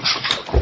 Mr.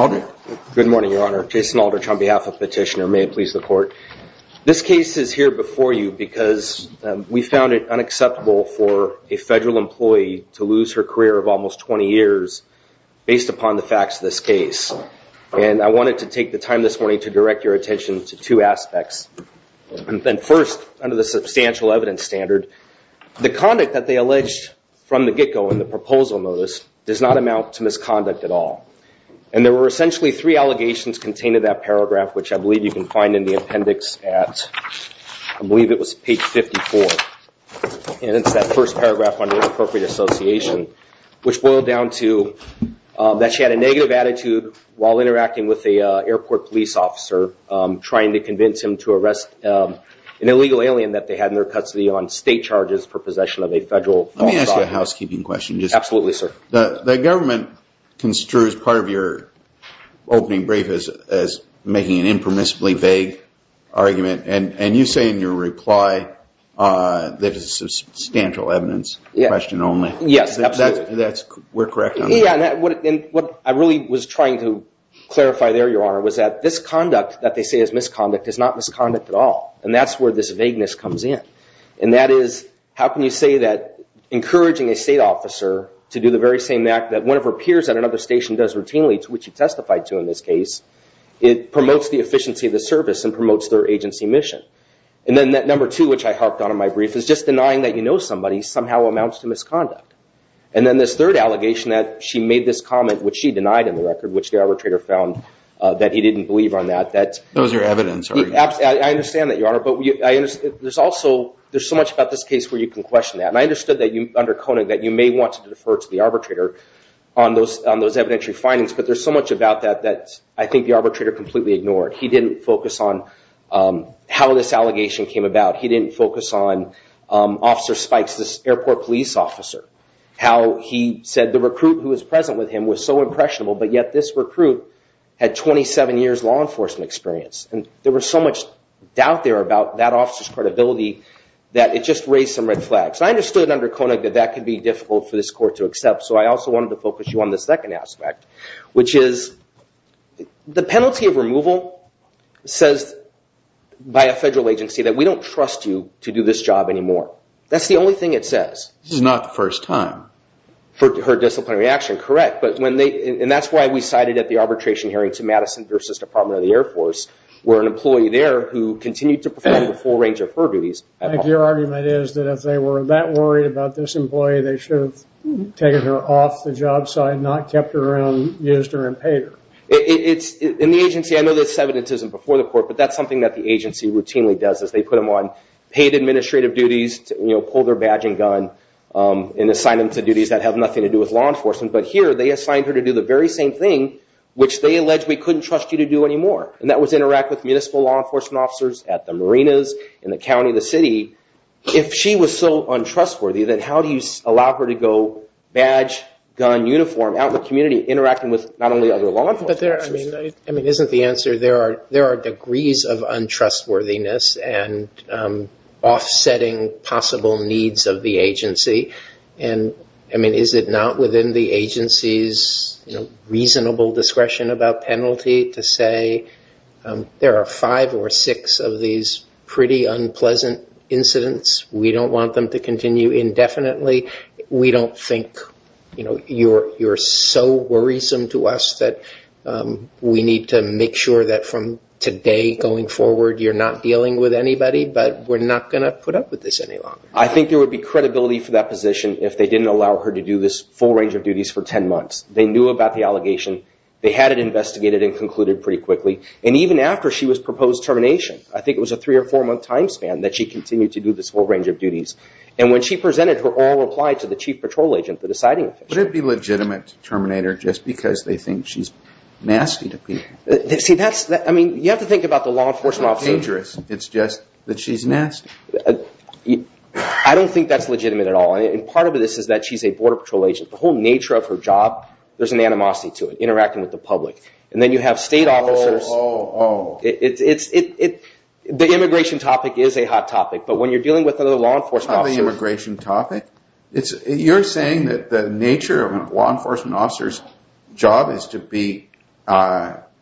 Aldrich. Good morning, Your Honor. Jason Aldrich on behalf of Petitioner. May it please the Court. This case is here before you because we found it unacceptable for a federal employee to lose her career of almost 20 years based upon the facts of this case. And I wanted to take the time this morning to direct your attention to two aspects. And first, under the substantial evidence standard, the conduct that they alleged from the get-go in the proposal notice does not amount to misconduct at all. And there were essentially three allegations contained in that paragraph, which I believe you can find in the appendix at, I believe it was page 54. And it's that first paragraph under appropriate association, which boiled down to that she had a negative attitude while interacting with an airport police officer, trying to convince him to arrest an illegal alien that they had in their custody on state charges for possession of a federal... Let me ask you a housekeeping question. Absolutely, sir. The government construes part of your opening brief as making an impermissibly vague argument. And you say in your reply that it's substantial evidence, question only. Yes, absolutely. We're correct on that. Yeah, and what I really was trying to clarify there, Your Honor, was that this conduct that they say is misconduct is not misconduct at all. And that's where this vagueness comes in. And that is, how can you say that encouraging a state officer to do the very same act that one of her peers at another station does routinely, which you testified to in this case, it promotes the efficiency of the service and promotes their agency mission. And then that number two, which I harked on in my brief, is just denying that you know somebody somehow amounts to misconduct. And then this third allegation that she made this comment, which she denied in the record, which the arbitrator found that he didn't believe on that. Those are evidence. I understand that, Your Honor. But there's so much about this case where you can question that. And I understood that under Conant that you may want to defer to the arbitrator on those evidentiary findings. But there's so much about that that I think the arbitrator completely ignored. He didn't focus on how this allegation came about. He didn't focus on Officer Spikes, this airport police officer. How he said the recruit who was present with him was so impressionable, but yet this recruit had 27 years law enforcement experience. And there was so much doubt there about that officer's credibility that it just raised some red flags. I understood under Conant that that could be difficult for this court to accept. So I also wanted to focus you on the second aspect, which is the penalty of removal says, by a federal agency, that we don't trust you to do this job anymore. That's the only thing it says. This is not the first time. For her disciplinary action, correct. And that's why we cited at the arbitration hearing to Madison v. Department of the Air Force, where an employee there who continued to perform a full range of her duties. Your argument is that if they were that worried about this employee, they should have taken her off the job site, not kept her around, used her, and paid her. It's in the agency. I know there's evidence before the court, but that's something that the agency routinely does is they put them on paid administrative duties, pull their badge and gun, and assign them to duties that have nothing to do with law enforcement. But here, they assigned her to do the very same thing, which they allege we couldn't trust you to do anymore. And that was interact with municipal law enforcement officers at the marinas, in the county, the city. If she was so untrustworthy, then how do you allow her to go badge, gun, uniform, out in the community, interacting with not only other law enforcement officers? I mean, isn't the answer there are degrees of untrustworthiness and offsetting possible needs of the agency? And I mean, is it not within the agency's reasonable discretion about penalty to say there are five or six of these pretty unpleasant incidents? We don't want them to continue indefinitely. We don't think you're so worrisome to us that we need to make sure that from today going forward, you're not dealing with anybody, but we're not going to put up with this any longer. I think there would be credibility for that position if they didn't allow her to do this full range of duties for 10 months. They knew about the allegation. They had it investigated and concluded pretty quickly. And even after she was proposed termination, I think it was a three or four month time span that she continued to do this whole range of duties. And when she presented her oral reply to the chief patrol agent, the deciding officer. Would it be legitimate to terminate her just because they think she's nasty to people? I mean, you have to think about the law enforcement officer. It's not dangerous. It's just that she's nasty. I don't think that's legitimate at all. And part of this is that she's a border patrol agent. The whole nature of her job, there's an animosity to it, and then you have state officers. The immigration topic is a hot topic, but when you're dealing with another law enforcement officer. The immigration topic? You're saying that the nature of a law enforcement officer's job is to be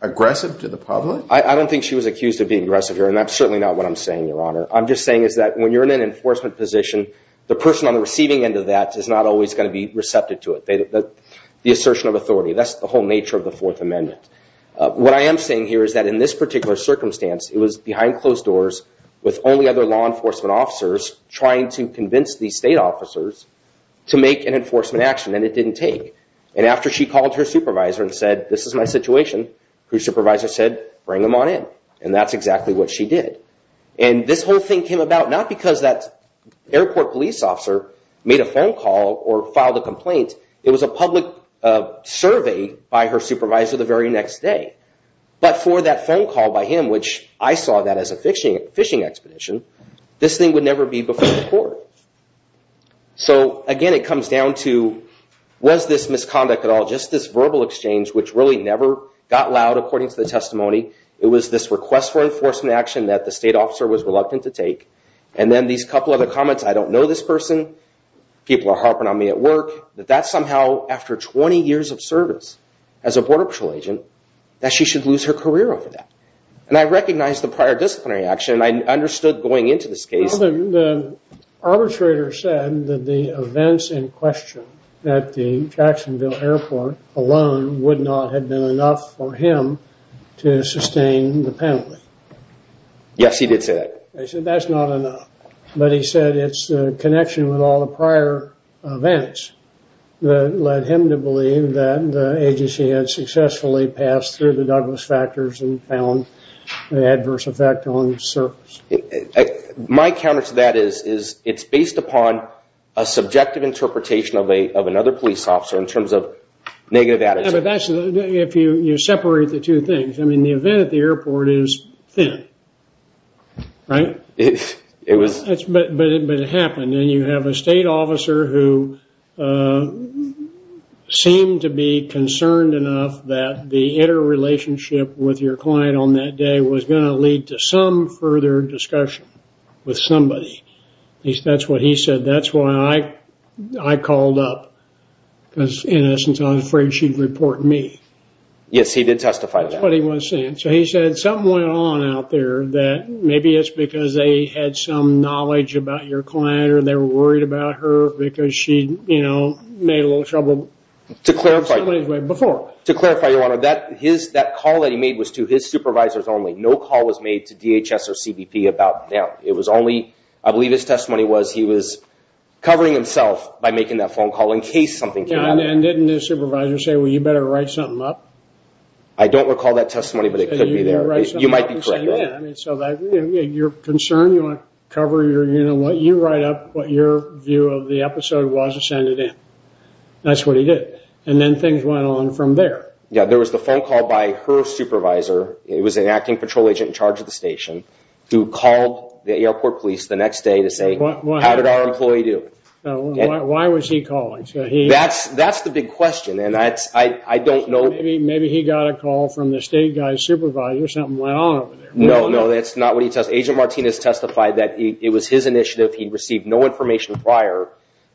aggressive to the public? I don't think she was accused of being aggressive here, and that's certainly not what I'm saying, Your Honor. I'm just saying is that when you're in an enforcement position, the person on the receiving end of that is not always going to be receptive to it. The assertion of authority, that's the whole nature of the Fourth Amendment. What I am saying here is that in this particular circumstance, it was behind closed doors with only other law enforcement officers trying to convince these state officers to make an enforcement action, and it didn't take. And after she called her supervisor and said, this is my situation, her supervisor said, bring them on in. And that's exactly what she did. And this whole thing came about not because that airport police officer made a phone call or filed a complaint. It was a public survey by her supervisor the very next day. But for that phone call by him, which I saw that as a fishing expedition, this thing would never be before the court. So again, it comes down to, was this misconduct at all? Just this verbal exchange, which really never got loud according to the testimony. It was this request for enforcement action that the state officer was reluctant to take. And then these couple other comments, I don't know this person. People are harping on me at work, that that's somehow after 20 years of service as a Border Patrol agent, that she should lose her career over that. And I recognize the prior disciplinary action. I understood going into this case. Well, the arbitrator said that the events in question at the Jacksonville airport alone would not have been enough for him to sustain the penalty. Yes, he did say that. He said that's not enough. But he said it's the connection with all the prior events that led him to believe that the agency had successfully passed through the Douglas factors and found the adverse effect on the surface. My counter to that is it's based upon a subjective interpretation of another police officer in terms of negative attitude. If you separate the two things, I mean, the event at the airport is thin. But it happened. And you have a state officer who seemed to be concerned enough that the interrelationship with your client on that day was going to lead to some further discussion with somebody. That's what he said. That's why I called up. Because in essence, I was afraid she'd report me. Yes, he did testify. So he said something went on out there that maybe it's because they had some knowledge about your client or they were worried about her because she, you know, made a little trouble. To clarify, your honor, that call that he made was to his supervisors only. No call was made to DHS or CBP about them. It was only, I believe his testimony was he was covering himself by making that phone call in case something came up. And didn't his supervisor say, well, you better write something up? I don't recall that testimony, but it could be there. You might be correct. Yeah, I mean, so your concern, you want to cover your, you know, you write up what your view of the episode was and send it in. That's what he did. And then things went on from there. Yeah, there was the phone call by her supervisor. It was an acting patrol agent in charge of the station who called the airport police the next day to say, how did our employee do? Why was he calling? That's the big question. And that's, I don't know. Maybe he got a call from the state guy's supervisor. Something went on over there. No, no, that's not what he testified. Agent Martinez testified that it was his initiative. He received no information prior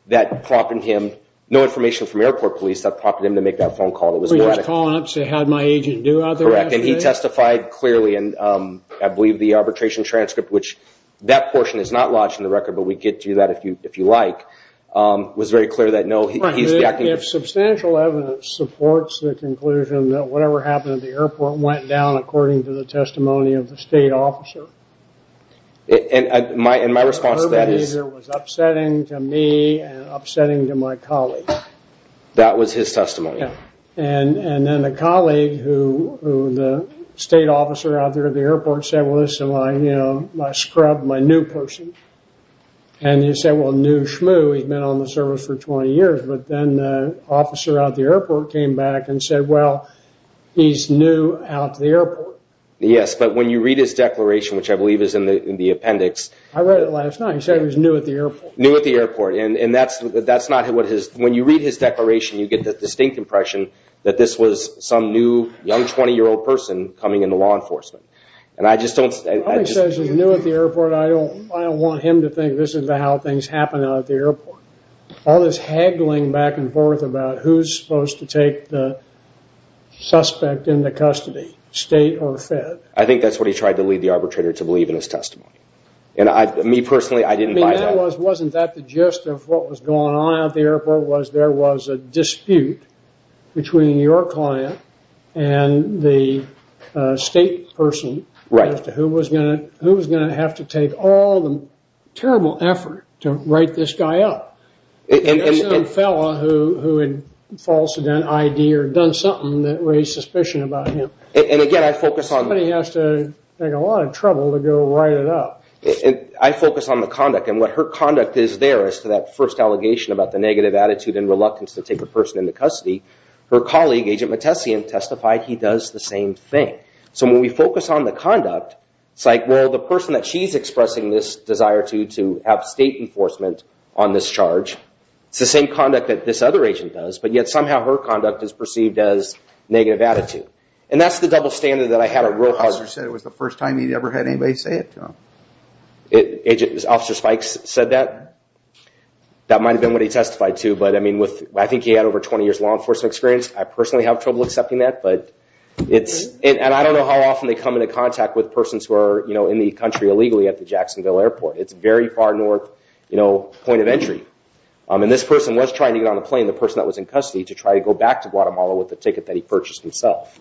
that prompted him, no information from airport police that prompted him to make that phone call. It was. He was calling up to say, how'd my agent do out there? Correct. And he testified clearly. And I believe the arbitration transcript, which that portion is not lodged in the record, but we get to that if you like, was very clear that no. Substantial evidence supports the conclusion that whatever happened at the airport went down according to the testimony of the state officer. And my response to that is upsetting to me and upsetting to my colleagues. That was his testimony. And then a colleague who the state officer out there at the airport said, well, this is my, you know, my scrub, my new person. And he said, well, new shmoo, he's been on the service for 20 years. But then the officer at the airport came back and said, well, he's new out to the airport. Yes. But when you read his declaration, which I believe is in the appendix. I read it last night. He said he was new at the airport. New at the airport. And that's that's not what his when you read his declaration, you get that distinct impression that this was some new young 20 year old person coming into law enforcement. And I just don't. He says he's new at the airport. I don't I don't want him to think this is how things happen out at the airport. All this haggling back and forth about who's supposed to take the suspect into custody, state or fed. I think that's what he tried to lead the arbitrator to believe in his testimony. And I, me personally, I didn't. I mean, that was wasn't that the gist of what was going on at the airport was there was a dispute between your client and the state person. Right. Who was going to who was going to have to take all the terrible effort to write this guy up? And a fellow who who had false identity or done something that raised suspicion about him. And again, I focus on what he has to take a lot of trouble to go write it up. I focus on the conduct and what her conduct is there as to that first allegation about the negative attitude and reluctance to take a person into custody. Her colleague, Agent Mattesian, testified he does the same thing. So when we focus on the conduct, it's like, well, the person that she's expressing this desire to to have state enforcement on this charge, it's the same conduct that this other agent does. But yet somehow her conduct is perceived as negative attitude. And that's the double standard that I had a real. Officer said it was the first time he'd ever had anybody say it to him. Officer Spikes said that. That might have been what he testified to. But I mean, with I think he had over 20 years law enforcement experience. I personally have trouble accepting that, but it's and I don't know how often they come into contact with persons who are in the country illegally at the Jacksonville Airport. It's very far north point of entry. And this person was trying to get on the plane, the person that was in custody to try to go back to Guatemala with the ticket that he purchased himself.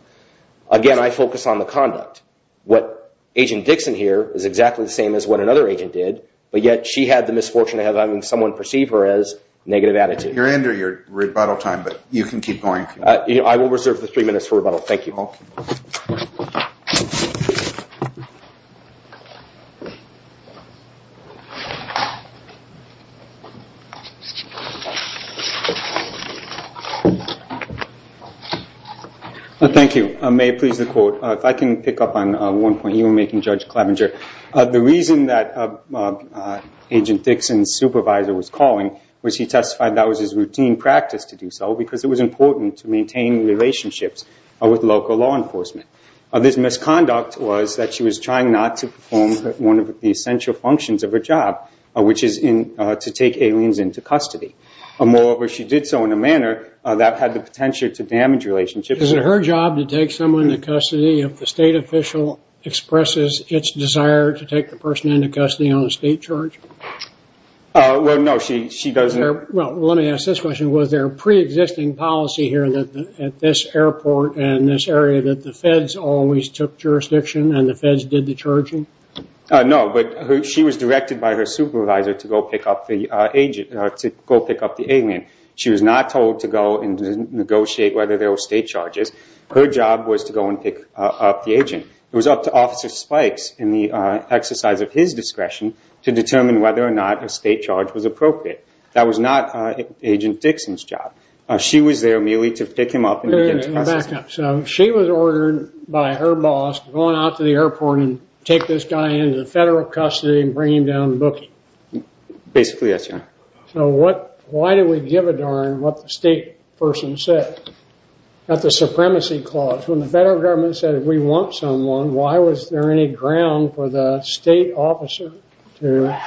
Again, I focus on the conduct. What Agent Dixon here is exactly the same as what another agent did. But yet she had the misfortune of having someone perceive her as negative attitude. You're under your rebuttal time, but you can keep going. I will reserve the three minutes for rebuttal. Thank you. Thank you. May I please the quote? If I can pick up on one point you were making, Judge Klavenger. The reason that Agent Dixon's supervisor was calling was he testified that was his routine practice to do so because it was important to maintain relationships with local law enforcement. This misconduct was that she was trying not to perform one of the essential functions of her job, which is to take aliens into custody. Moreover, she did so in a manner that had the potential to damage relationships. Is it her job to take someone into custody if the state official expresses its desire to take the person into custody on a state charge? Well, no. She doesn't. Well, let me ask this question. Was there a pre-existing policy here at this airport and this area that the feds always took jurisdiction and the feds did the charging? No, but she was directed by her supervisor to go pick up the alien. She was not told to go and negotiate whether there were state charges. Her job was to go and pick up the agent. It was up to Officer Spikes in the exercise of his discretion to determine whether or not a state charge was appropriate. That was not Agent Dixon's job. She was there merely to pick him up. She was ordered by her boss to go out to the airport and take this guy into federal custody and bring him down to booking? Basically, yes, Your Honor. So why do we give a darn what the state person said? That's a supremacy clause. When the federal government said we want someone, why was there any ground for the state officer to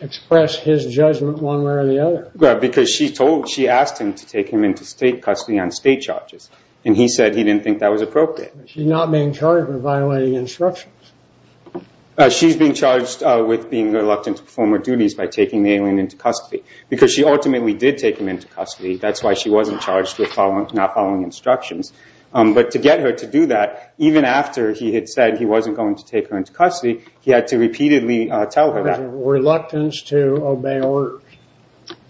express his judgment one way or the other? Because she told, she asked him to take him into state custody on state charges and he said he didn't think that was appropriate. She's not being charged with violating instructions. She's being charged with being reluctant to perform her duties by taking the alien into custody because she ultimately did take him into custody. That's why she wasn't charged with not following instructions. But to get her to do that, even after he had said he wasn't going to take her into custody, he had to repeatedly tell her that. Reluctance to obey orders.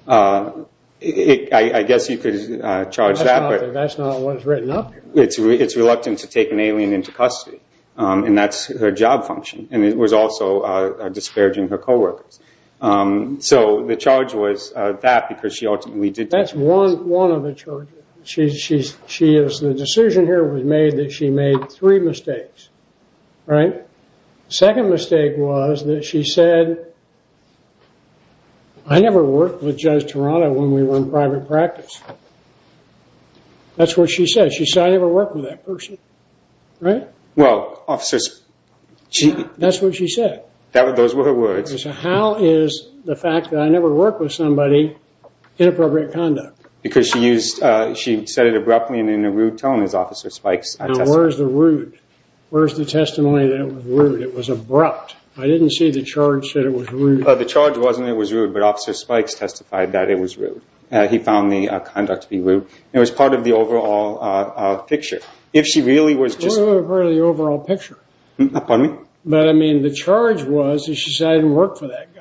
I guess you could charge that. That's not what's written up here. It's reluctant to take an alien into custody. And that's her job function. And it was also disparaging her coworkers. So the charge was that because she ultimately did take him into custody. That's one of the charges. The decision here was made that she made three mistakes. Second mistake was that she said, I never worked with Judge Toronto when we were in private practice. That's what she said. She said, I never worked with that person. Right? Well, officers. That's what she said. Those were her words. So how is the fact that I never worked with somebody inappropriate conduct? Because she used, she said it abruptly and in a rude tone as Officer Spikes testified. Now where's the rude? Where's the testimony that it was rude? It was abrupt. I didn't see the charge said it was rude. He found the conduct to be rude. It was part of the overall picture. If she really was just... What was the overall picture? Pardon me? But I mean, the charge was that she said I didn't work for that guy.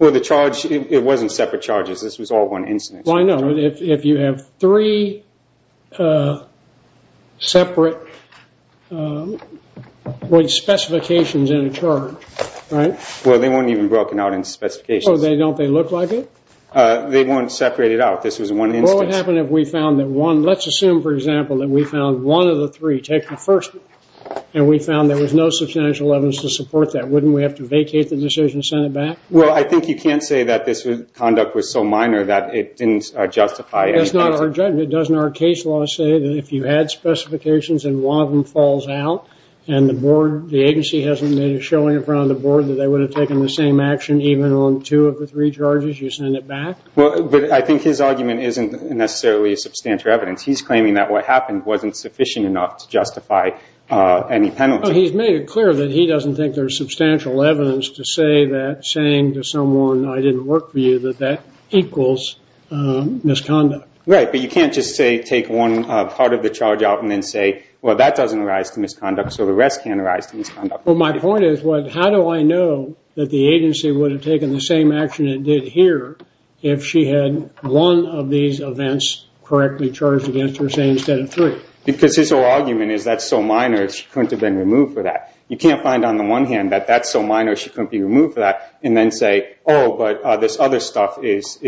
Well, the charge, it wasn't separate charges. This was all one incident. Well, I know. If you have three separate specifications in a charge, right? Well, they weren't even broken out in specifications. Don't they look like it? They weren't separated out. This was one instance. What would happen if we found that one... Let's assume, for example, that we found one of the three take the first and we found there was no substantial evidence to support that. Wouldn't we have to vacate the decision and send it back? Well, I think you can't say that this conduct was so minor that it didn't justify anything. That's not our judgment. Doesn't our case law say that if you had specifications and one of them falls out and the agency hasn't made a showing in front of the board that they would have taken the same charges, you send it back? Well, I think his argument isn't necessarily substantial evidence. He's claiming that what happened wasn't sufficient enough to justify any penalty. He's made it clear that he doesn't think there's substantial evidence to say that saying to someone, I didn't work for you, that that equals misconduct. Right. But you can't just say, take one part of the charge out and then say, well, that doesn't arise to misconduct, so the rest can't arise to misconduct. My point is, how do I know that the agency would have taken the same action it did here if she had one of these events correctly charged against her, say, instead of three? Because his whole argument is that's so minor, she couldn't have been removed for that. You can't find on the one hand that that's so minor, she couldn't be removed for that, and then say, oh, but this other stuff is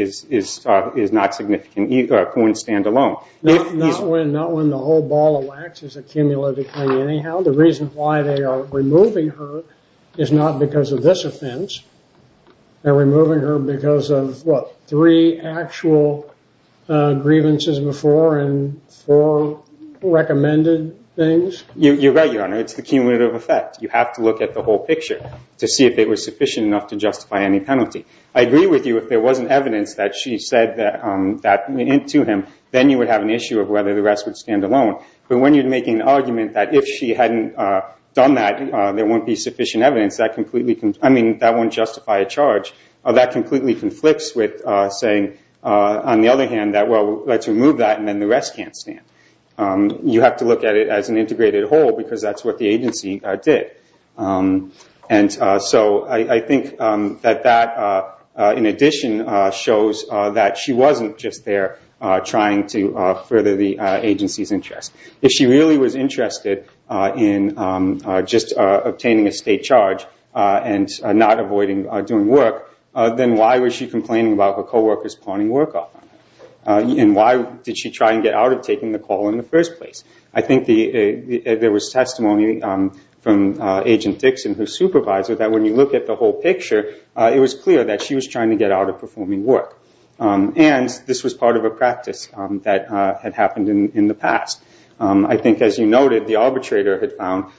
not significant either, a point stand alone. Not when the whole ball of wax is accumulated for you anyhow. The reason why they are removing her is not because of this offense. They're removing her because of, what, three actual grievances before and four recommended things? You're right, Your Honor. It's the cumulative effect. You have to look at the whole picture to see if it was sufficient enough to justify any penalty. I agree with you if there wasn't evidence that she said that to him, then you would have an issue of whether the rest would stand alone. But when you're making an argument that if she hadn't done that, there wouldn't be sufficient evidence, that wouldn't justify a charge. That completely conflicts with saying, on the other hand, that, well, let's remove that, and then the rest can't stand. You have to look at it as an integrated whole because that's what the agency did. So I think that that, in addition, shows that she wasn't just there trying to further the agency's interest. If she really was interested in just obtaining a state charge and not avoiding doing work, then why was she complaining about her co-workers pawning work off on her? And why did she try and get out of taking the call in the first place? I think there was testimony from Agent Dixon, her supervisor, that when you look at the whole picture, it was clear that she was trying to get out of performing work. And this was part of a practice that had happened in the past. I think, as you noted, the arbitrator had found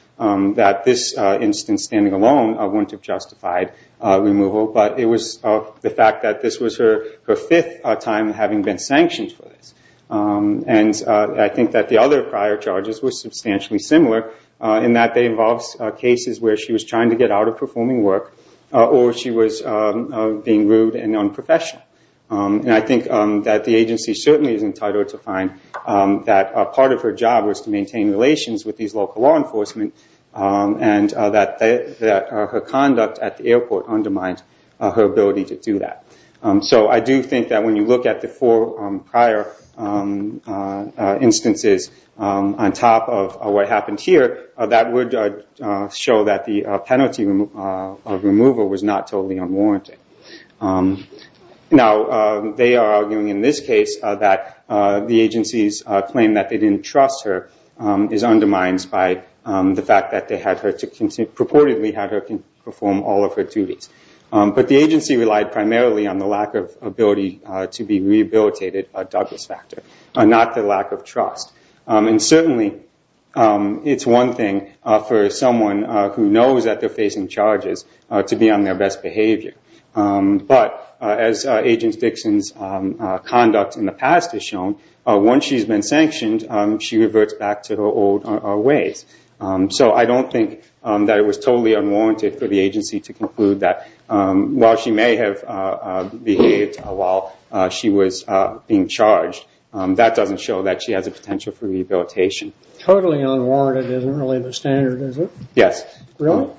that this instance, standing alone, wouldn't have justified removal. But it was the fact that this was her fifth time having been sanctioned for this. And I think that the other prior charges were substantially similar, in that they involved cases where she was trying to get out of performing work, or she was being rude and unprofessional. And I think that the agency certainly is entitled to find that part of her job was to maintain relations with these local law enforcement, and that her conduct at the airport undermined her ability to do that. So I do think that when you look at the four prior instances on top of what happened here, that would show that the penalty of removal was not totally unwarranted. Now, they are arguing in this case that the agency's claim that they didn't trust her is undermined by the fact that they had her, purportedly had her perform all of her duties. But the agency relied primarily on the lack of ability to be rehabilitated by Douglas Factor, not the lack of trust. And certainly, it's one thing for someone who knows that they're facing charges to be on their best behavior. But as Agent Dixon's conduct in the past has shown, once she's been sanctioned, she reverts back to her old ways. So I don't think that it was totally unwarranted for the agency to conclude that while she may have behaved while she was being charged, that doesn't show that she has a potential for rehabilitation. Totally unwarranted isn't really the standard, is it? Really?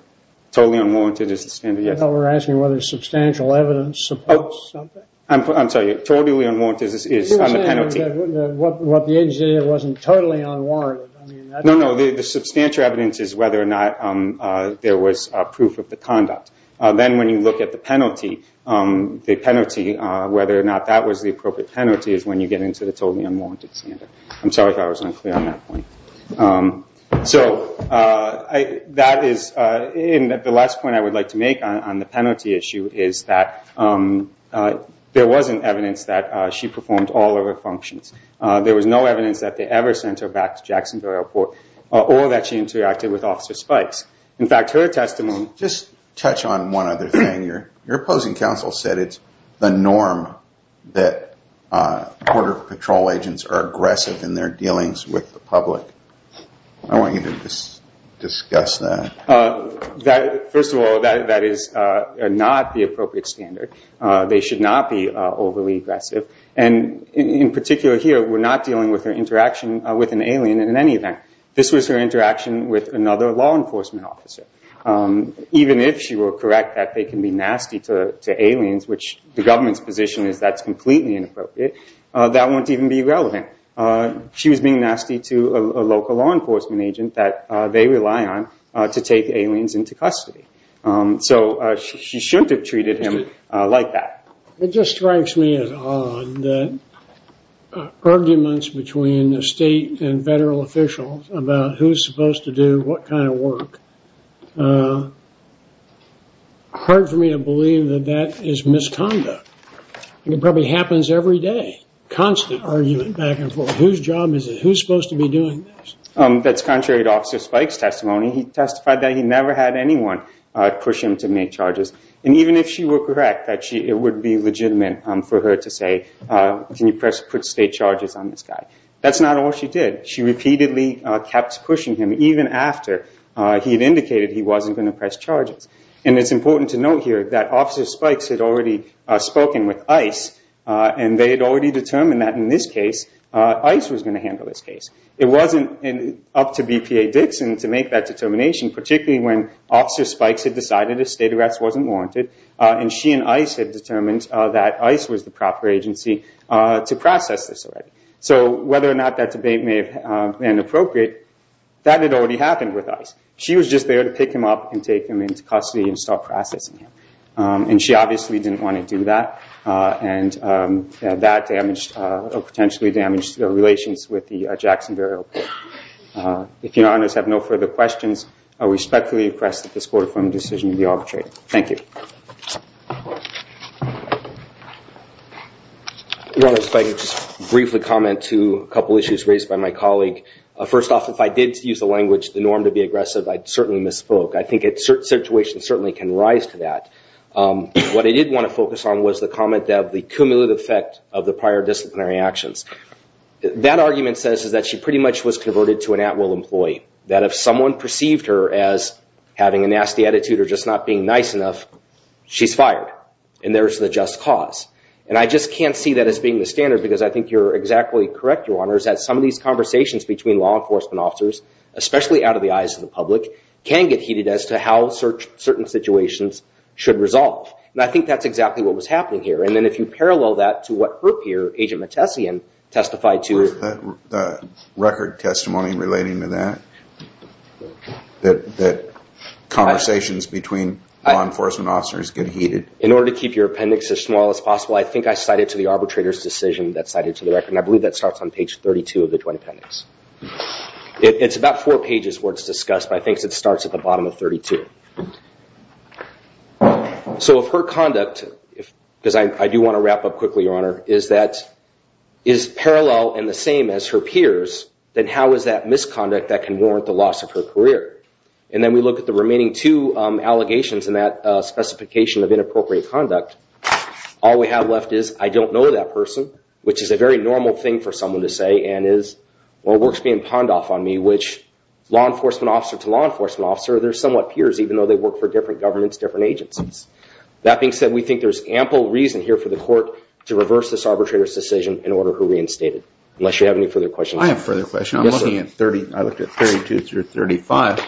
Totally unwarranted is the standard, yes. We're asking whether substantial evidence supports something. I'm sorry. Totally unwarranted is on the penalty. What the agency did wasn't totally unwarranted. No, no. The substantial evidence is whether or not there was proof of the conduct. Then when you look at the penalty, the penalty, whether or not that was the appropriate penalty, is when you get into the totally unwarranted standard. I'm sorry if I was unclear on that point. So that is the last point I would like to make on the penalty issue, is that there wasn't evidence that she performed all of her functions. There was no evidence that they ever sent her back to Jacksonville Airport or that she interacted with Officer Spikes. In fact, her testimony... Just touch on one other thing. Your opposing counsel said it's the norm that border patrol agents are aggressive in their dealings with the public. I want you to discuss that. First of all, that is not the appropriate standard. They should not be overly aggressive. And in particular here, we're not dealing with her interaction with an alien in any event. This was her interaction with another law enforcement officer. Even if she were correct that they can be nasty to aliens, which the government's position is that's completely inappropriate, that won't even be relevant. She was being nasty to a local law enforcement agent that they rely on to take aliens into custody. So she shouldn't have treated him like that. It just strikes me as odd that arguments between the state and federal officials about who's supposed to do what kind of work... Hard for me to believe that that is misconduct. It probably happens every day. Constant argument back and forth. Whose job is it? Who's supposed to be doing this? That's contrary to Officer Spike's testimony. He testified that he never had anyone push him to make charges. And even if she were correct that it would be legitimate for her to say, can you put state charges on this guy? That's not all she did. She repeatedly kept pushing him, even after he had indicated he wasn't going to press charges. And it's important to note here that Officer Spike had already spoken with ICE and they had already determined that in this case, ICE was going to handle this case. It wasn't up to BPA Dixon to make that determination, particularly when Officer Spikes had decided a state arrest wasn't warranted and she and ICE had determined that ICE was the proper agency to process this already. So whether or not that debate may have been appropriate, that had already happened with ICE. She was just there to pick him up and take him into custody and start processing him. And she obviously didn't want to do that. And that damaged or potentially damaged the relations with the Jackson burial. If your honors have no further questions, I respectfully request that this court-affirmed decision be arbitrated. Thank you. Your Honor, if I could just briefly comment to a couple issues raised by my colleague. First off, if I did use the language, the norm to be aggressive, I certainly misspoke. I think a certain situation certainly can rise to that. What I did want to focus on was the comment of the cumulative effect of the prior disciplinary actions. That argument says is that she pretty much was converted to an at-will employee. That if someone perceived her as having a nasty attitude or just not being nice enough, she's fired. And there's the just cause. And I just can't see that as being the standard, because I think you're exactly correct, Your Honors, especially out of the eyes of the public, can get heated as to how certain situations should resolve. And I think that's exactly what was happening here. And then if you parallel that to what her peer, Agent Mattesian, testified to. Was the record testimony relating to that? That conversations between law enforcement officers get heated? In order to keep your appendix as small as possible, I think I cited to the arbitrator's decision that's cited to the record. And I believe that starts on page 32 of the joint appendix. It's about four pages where it's discussed. But I think it starts at the bottom of 32. So if her conduct, because I do want to wrap up quickly, Your Honor, is that is parallel and the same as her peers, then how is that misconduct that can warrant the loss of her career? And then we look at the remaining two allegations in that specification of inappropriate conduct. All we have left is, I don't know that person, which is a very normal thing for someone to say. And is, well, it works being pond off on me, law enforcement officer to law enforcement officer. They're somewhat peers, even though they work for different governments, different agencies. That being said, we think there's ample reason here for the court to reverse this arbitrator's decision in order to reinstate it. Unless you have any further questions. I have further questions. I'm looking at 30, I looked at 32 through 35.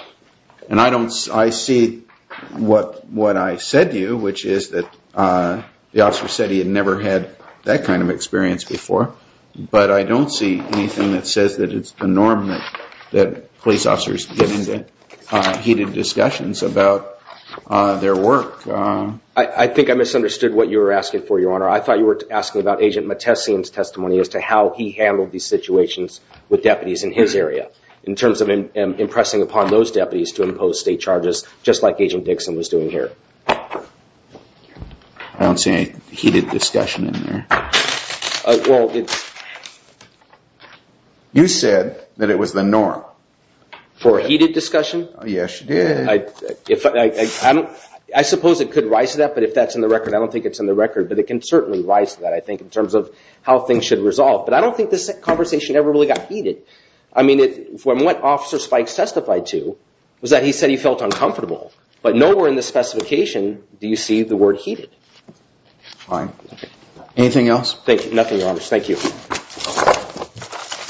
And I don't, I see what I said to you, which is that the officer said he had never had that kind of experience before. But I don't see anything that says that it's the norm that police officers get into heated discussions about their work. I think I misunderstood what you were asking for, Your Honor. I thought you were asking about Agent Mattesian's testimony as to how he handled these situations with deputies in his area. In terms of impressing upon those deputies to impose state charges, just like Agent Dixon was doing here. I don't see any heated discussion in there. Well, you said that it was the norm. For a heated discussion? Yes, you did. I suppose it could rise to that. But if that's in the record, I don't think it's in the record. But it can certainly rise to that, I think, in terms of how things should resolve. But I don't think this conversation ever really got heated. I mean, from what Officer Spikes testified to, was that he said he felt uncomfortable. But nowhere in the specification do you see the word heated. Fine. Anything else? Thank you. Nothing, Your Honor. Thank you.